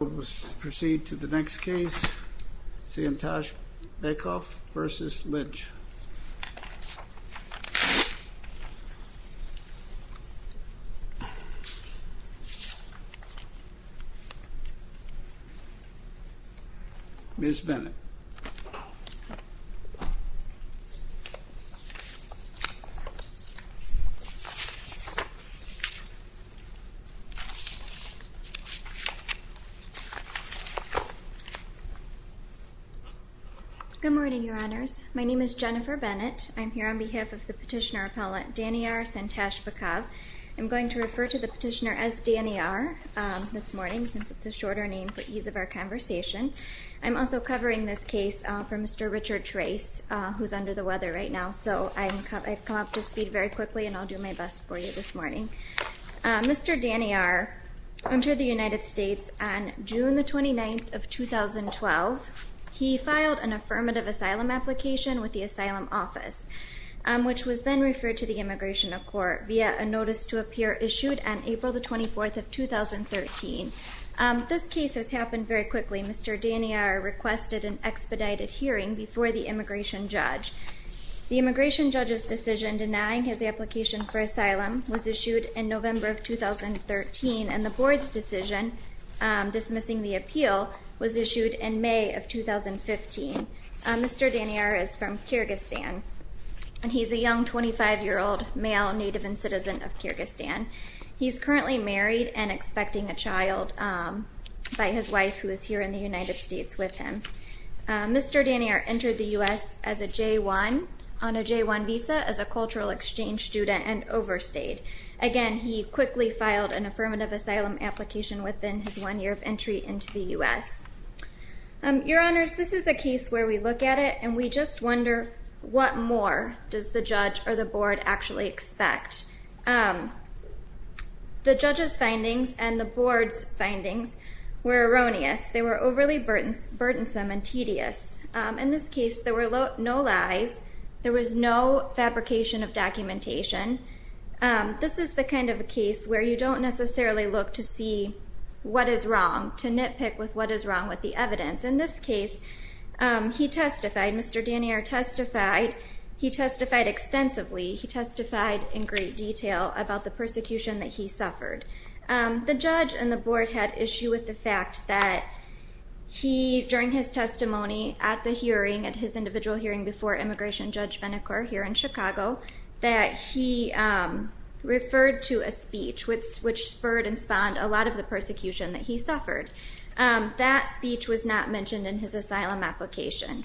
We will proceed to the next case, Santashbekov v. Lynch. Ms. Bennett. Good morning, Your Honors. My name is Jennifer Bennett. I'm here on behalf of the petitioner appellant Daniiar Santashbekov. I'm going to refer to the petitioner as Daniiar this morning since it's a shorter name for ease of our conversation. I'm also covering this case for Mr. Richard Trace, who's under the weather right now, so I've come up to speed very quickly and I'll do my best for you this morning. Mr. Daniiar entered the United States on June 29, 2012. He filed an affirmative asylum application with the Asylum Office, which was then referred to the Immigration Court via a notice to appear issued on April 24, 2013. This case has happened very quickly. Mr. Daniiar requested an expedited hearing before the immigration judge. The immigration judge's decision denying his application for asylum was issued in November of 2013, and the board's decision dismissing the appeal was issued in May of 2015. Mr. Daniiar is from Kyrgyzstan, and he's a young 25-year-old male native and citizen of Kyrgyzstan. He's currently married and expecting a child by his wife, who is here in the United States with him. Mr. Daniiar entered the U.S. on a J-1 visa as a cultural exchange student and overstayed. Again, he quickly filed an affirmative asylum application within his one year of entry into the U.S. Your Honors, this is a case where we look at it and we just wonder, what more does the judge or the board actually expect? The judge's findings and the board's findings were erroneous. They were overly burdensome and tedious. In this case, there were no lies. There was no fabrication of documentation. This is the kind of a case where you don't necessarily look to see what is wrong, to nitpick with what is wrong with the evidence. In this case, he testified. Mr. Daniiar testified. He testified extensively. He testified in great detail about the persecution that he suffered. The judge and the board had issue with the fact that he, during his testimony at the hearing, at his individual hearing before Immigration Judge Venacore here in Chicago, that he referred to a speech which spurred and spawned a lot of the persecution that he suffered. That speech was not mentioned in his asylum application.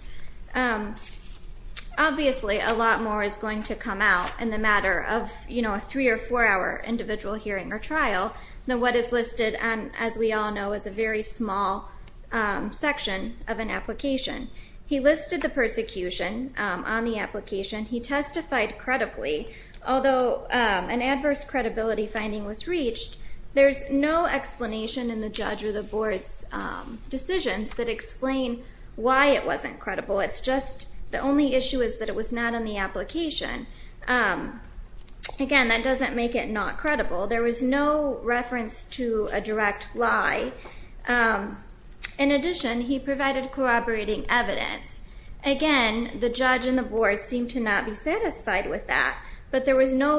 Obviously, a lot more is going to come out in the matter of a three or four hour individual hearing or trial than what is listed, as we all know, as a very small section of an application. He listed the persecution on the application. He testified credibly. Although an adverse credibility finding was reached, there's no explanation in the judge or the board's decisions that explain why it wasn't credible. The only issue is that it was not in the application. Again, that doesn't make it not credible. There was no reference to a direct lie. In addition, he provided corroborating evidence. Again, the judge and the board seemed to not be satisfied with that, but there was no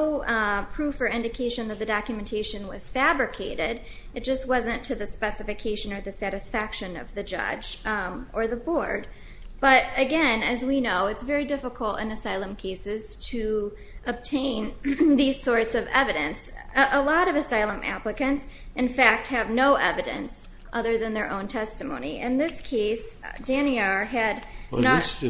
proof or indication that the documentation was fabricated. It just wasn't to the specification or the satisfaction of the judge or the board. But again, as we know, it's very difficult in asylum cases to obtain these sorts of evidence. A lot of asylum applicants, in fact, have no evidence other than their own testimony. In this case, Danny R. had not... That's correct.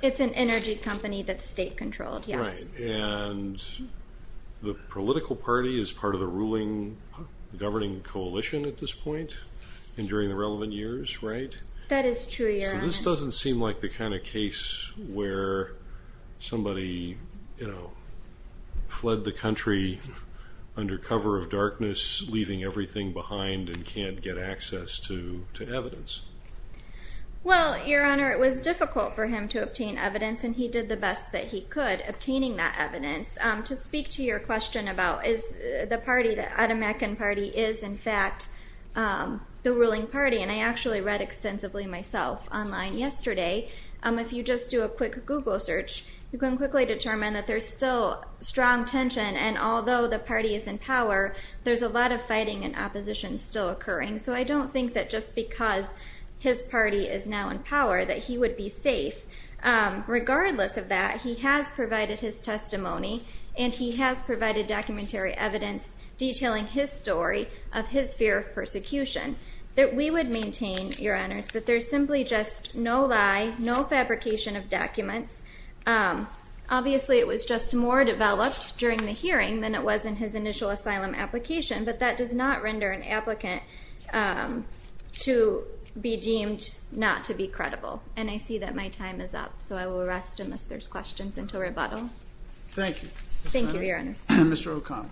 It's an energy company that's state controlled, yes. That is true, Your Honor. ...leaving everything behind and can't get access to evidence. Well, Your Honor, it was difficult for him to obtain evidence, and he did the best that he could obtaining that evidence. To speak to your question about is the party, the Atamecan Party, is in fact the ruling party, and I actually read extensively myself online yesterday. If you just do a quick Google search, you can quickly determine that there's still strong tension, and although the party is in power, there's a lot of fighting and opposition still occurring. So I don't think that just because his party is now in power that he would be safe. Regardless of that, he has provided his testimony, and he has provided documentary evidence detailing his story of his fear of persecution that we would maintain, Your Honors, that there's simply just no lie, no fabrication of documents. Obviously, it was just more developed during the hearing than it was in his initial asylum application, but that does not render an applicant to be deemed not to be credible. And I see that my time is up, so I will rest unless there's questions until rebuttal. Thank you. Thank you, Your Honors. Mr. O'Connell.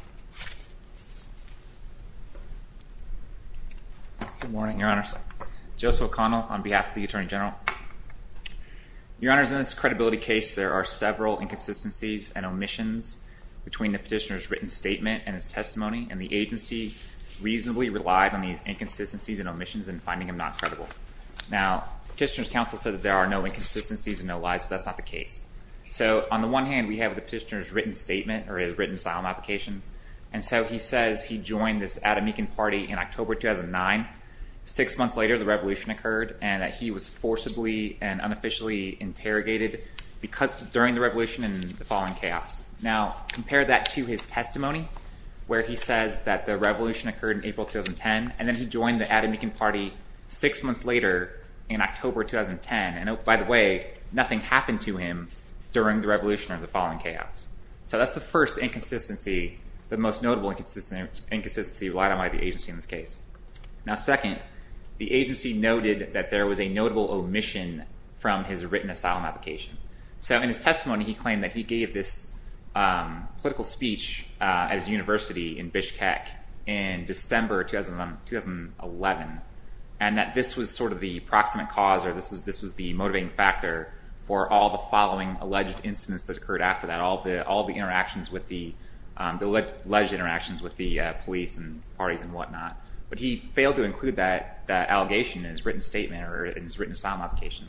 Good morning, Your Honors. Joseph O'Connell on behalf of the Attorney General. Your Honors, in this credibility case, there are several inconsistencies and omissions between the petitioner's written statement and his testimony, and the agency reasonably relied on these inconsistencies and omissions in finding him not credible. Now, Petitioner's counsel said that there are no inconsistencies and no lies, but that's not the case. So, on the one hand, we have the petitioner's written statement or his written asylum application, and so he says he joined this Adamican party in October 2009. Six months later, the revolution occurred, and that he was forcibly and unofficially interrogated during the revolution and the fall of chaos. Now, compare that to his testimony, where he says that the revolution occurred in April 2010, and then he joined the Adamican party six months later in October 2010. And, by the way, nothing happened to him during the revolution or the fall of chaos. So that's the first inconsistency, the most notable inconsistency relied on by the agency in this case. Now, second, the agency noted that there was a notable omission from his written asylum application. So, in his testimony, he claimed that he gave this political speech at his university in Bishkek in December 2011, and that this was sort of the proximate cause or this was the motivating factor for all the following alleged incidents that occurred after that, all the alleged interactions with the police and parties and whatnot. But he failed to include that allegation in his written statement or in his written asylum application.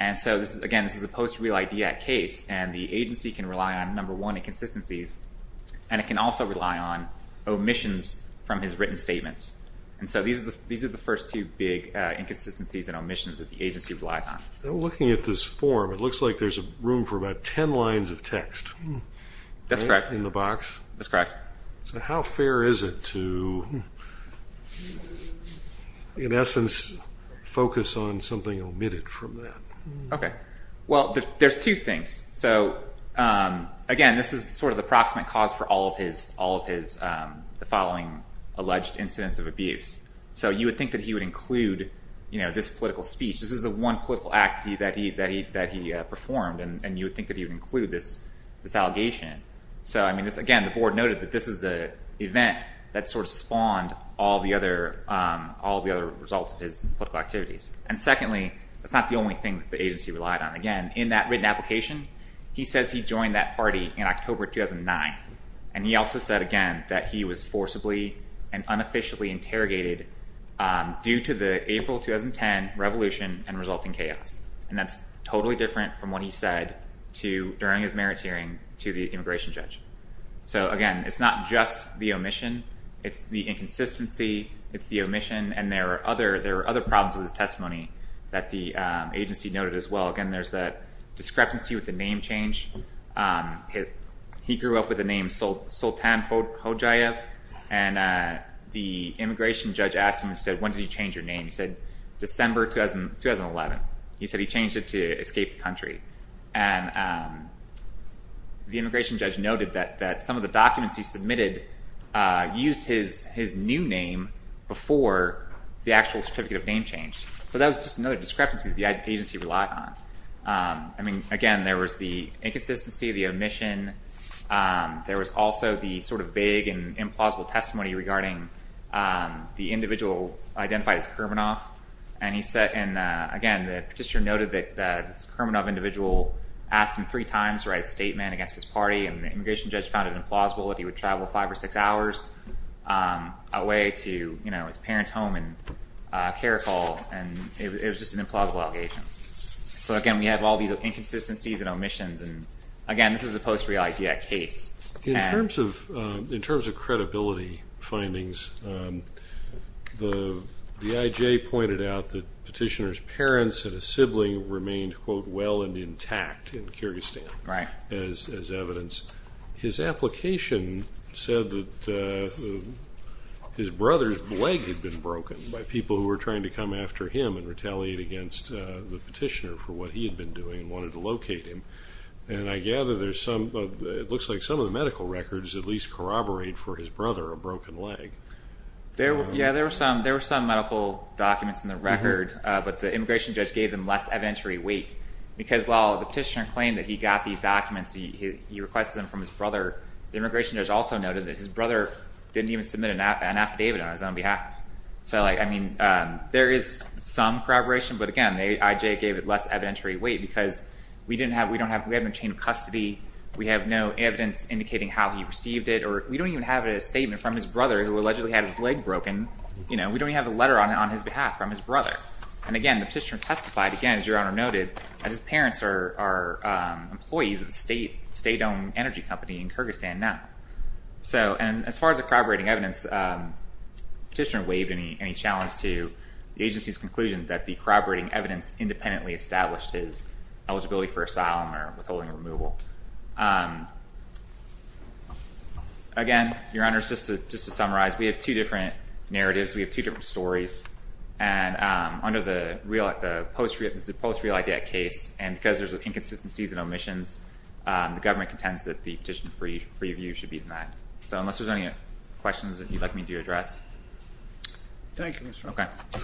And so, again, this is a post-real idea case, and the agency can rely on, number one, inconsistencies, and it can also rely on omissions from his written statements. And so these are the first two big inconsistencies and omissions that the agency relied on. Looking at this form, it looks like there's room for about ten lines of text. That's correct. In the box. That's correct. So how fair is it to, in essence, focus on something omitted from that? Okay. Well, there's two things. So, again, this is sort of the proximate cause for all of his following alleged incidents of abuse. So you would think that he would include this political speech. This is the one political act that he performed, and you would think that he would include this allegation. So, again, the board noted that this is the event that sort of spawned all the other results of his political activities. And, secondly, that's not the only thing that the agency relied on. Again, in that written application, he says he joined that party in October 2009, and he also said, again, that he was forcibly and unofficially interrogated due to the April 2010 revolution and resulting chaos. And that's totally different from what he said during his merits hearing to the immigration judge. So, again, it's not just the omission. It's the inconsistency. It's the omission. And there are other problems with his testimony that the agency noted as well. Again, there's the discrepancy with the name change. He grew up with the name Soltan Hojayev, and the immigration judge asked him, he said, December 2011. He said he changed it to escape the country. And the immigration judge noted that some of the documents he submitted used his new name before the actual certificate of name change. So that was just another discrepancy that the agency relied on. I mean, again, there was the inconsistency, the omission. There was also the sort of vague and implausible testimony regarding the individual identified as Kermanoff. And, again, the petitioner noted that this Kermanoff individual asked him three times to write a statement against his party, and the immigration judge found it implausible that he would travel five or six hours away to his parents' home in Karakol. And it was just an implausible allegation. So, again, we have all these inconsistencies and omissions. And, again, this is a post-re-IDX case. In terms of credibility findings, the IJ pointed out that petitioner's parents and a sibling remained, quote, well and intact in Kyrgyzstan as evidence. His application said that his brother's leg had been broken by people who were trying to come after him and retaliate against the petitioner for what he had been doing and wanted to locate him. And I gather there's some, it looks like some of the medical records at least corroborate for his brother a broken leg. Yeah, there were some medical documents in the record, but the immigration judge gave them less evidentiary weight. Because while the petitioner claimed that he got these documents, he requested them from his brother, the immigration judge also noted that his brother didn't even submit an affidavit on his own behalf. So, I mean, there is some corroboration, but, again, the IJ gave it less evidentiary weight because we have no chain of custody, we have no evidence indicating how he received it, or we don't even have a statement from his brother who allegedly had his leg broken. We don't even have a letter on his behalf from his brother. And, again, the petitioner testified, again, as Your Honor noted, that his parents are employees of a state-owned energy company in Kyrgyzstan now. So, and as far as the corroborating evidence, the petitioner waived any challenge to the agency's conclusion that the corroborating evidence independently established his eligibility for asylum or withholding removal. Again, Your Honor, just to summarize, we have two different narratives, we have two different stories, and under the post-reality act case, and because there's inconsistencies and omissions, the government contends that the petitioner's free view should be denied. So unless there's any questions that you'd like me to address. Thank you, Your Honor. Okay.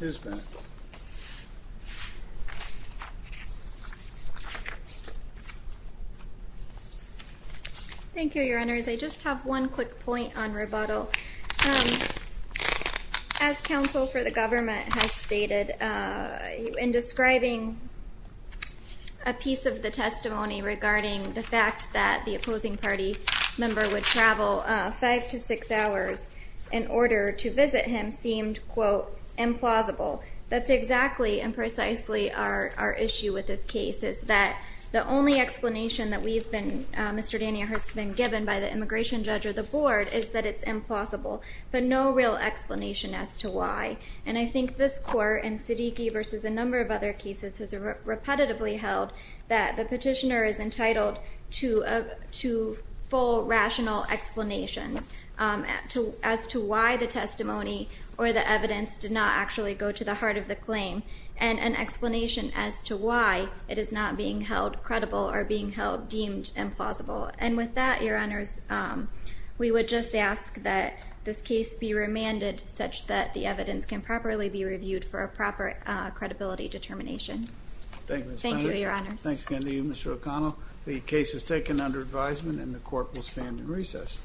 Ms. Bennett. Thank you, Your Honors. I just have one quick point on rebuttal. So as counsel for the government has stated, in describing a piece of the testimony regarding the fact that the opposing party member would travel five to six hours in order to visit him seemed, quote, implausible. That's exactly and precisely our issue with this case, is that the only explanation that we've been, Mr. Dania has been given by the immigration judge or the board, is that it's implausible. But no real explanation as to why. And I think this court, and Siddiqui versus a number of other cases, has repetitively held that the petitioner is entitled to full, rational explanations as to why the testimony or the evidence did not actually go to the heart of the claim. And an explanation as to why it is not being held credible or being held deemed implausible. And with that, Your Honors, we would just ask that this case be remanded such that the evidence can properly be reviewed for a proper credibility determination. Thank you, Ms. Bennett. Thank you, Your Honors. Thanks again to you, Mr. O'Connell. The case is taken under advisement and the court will stand in recess.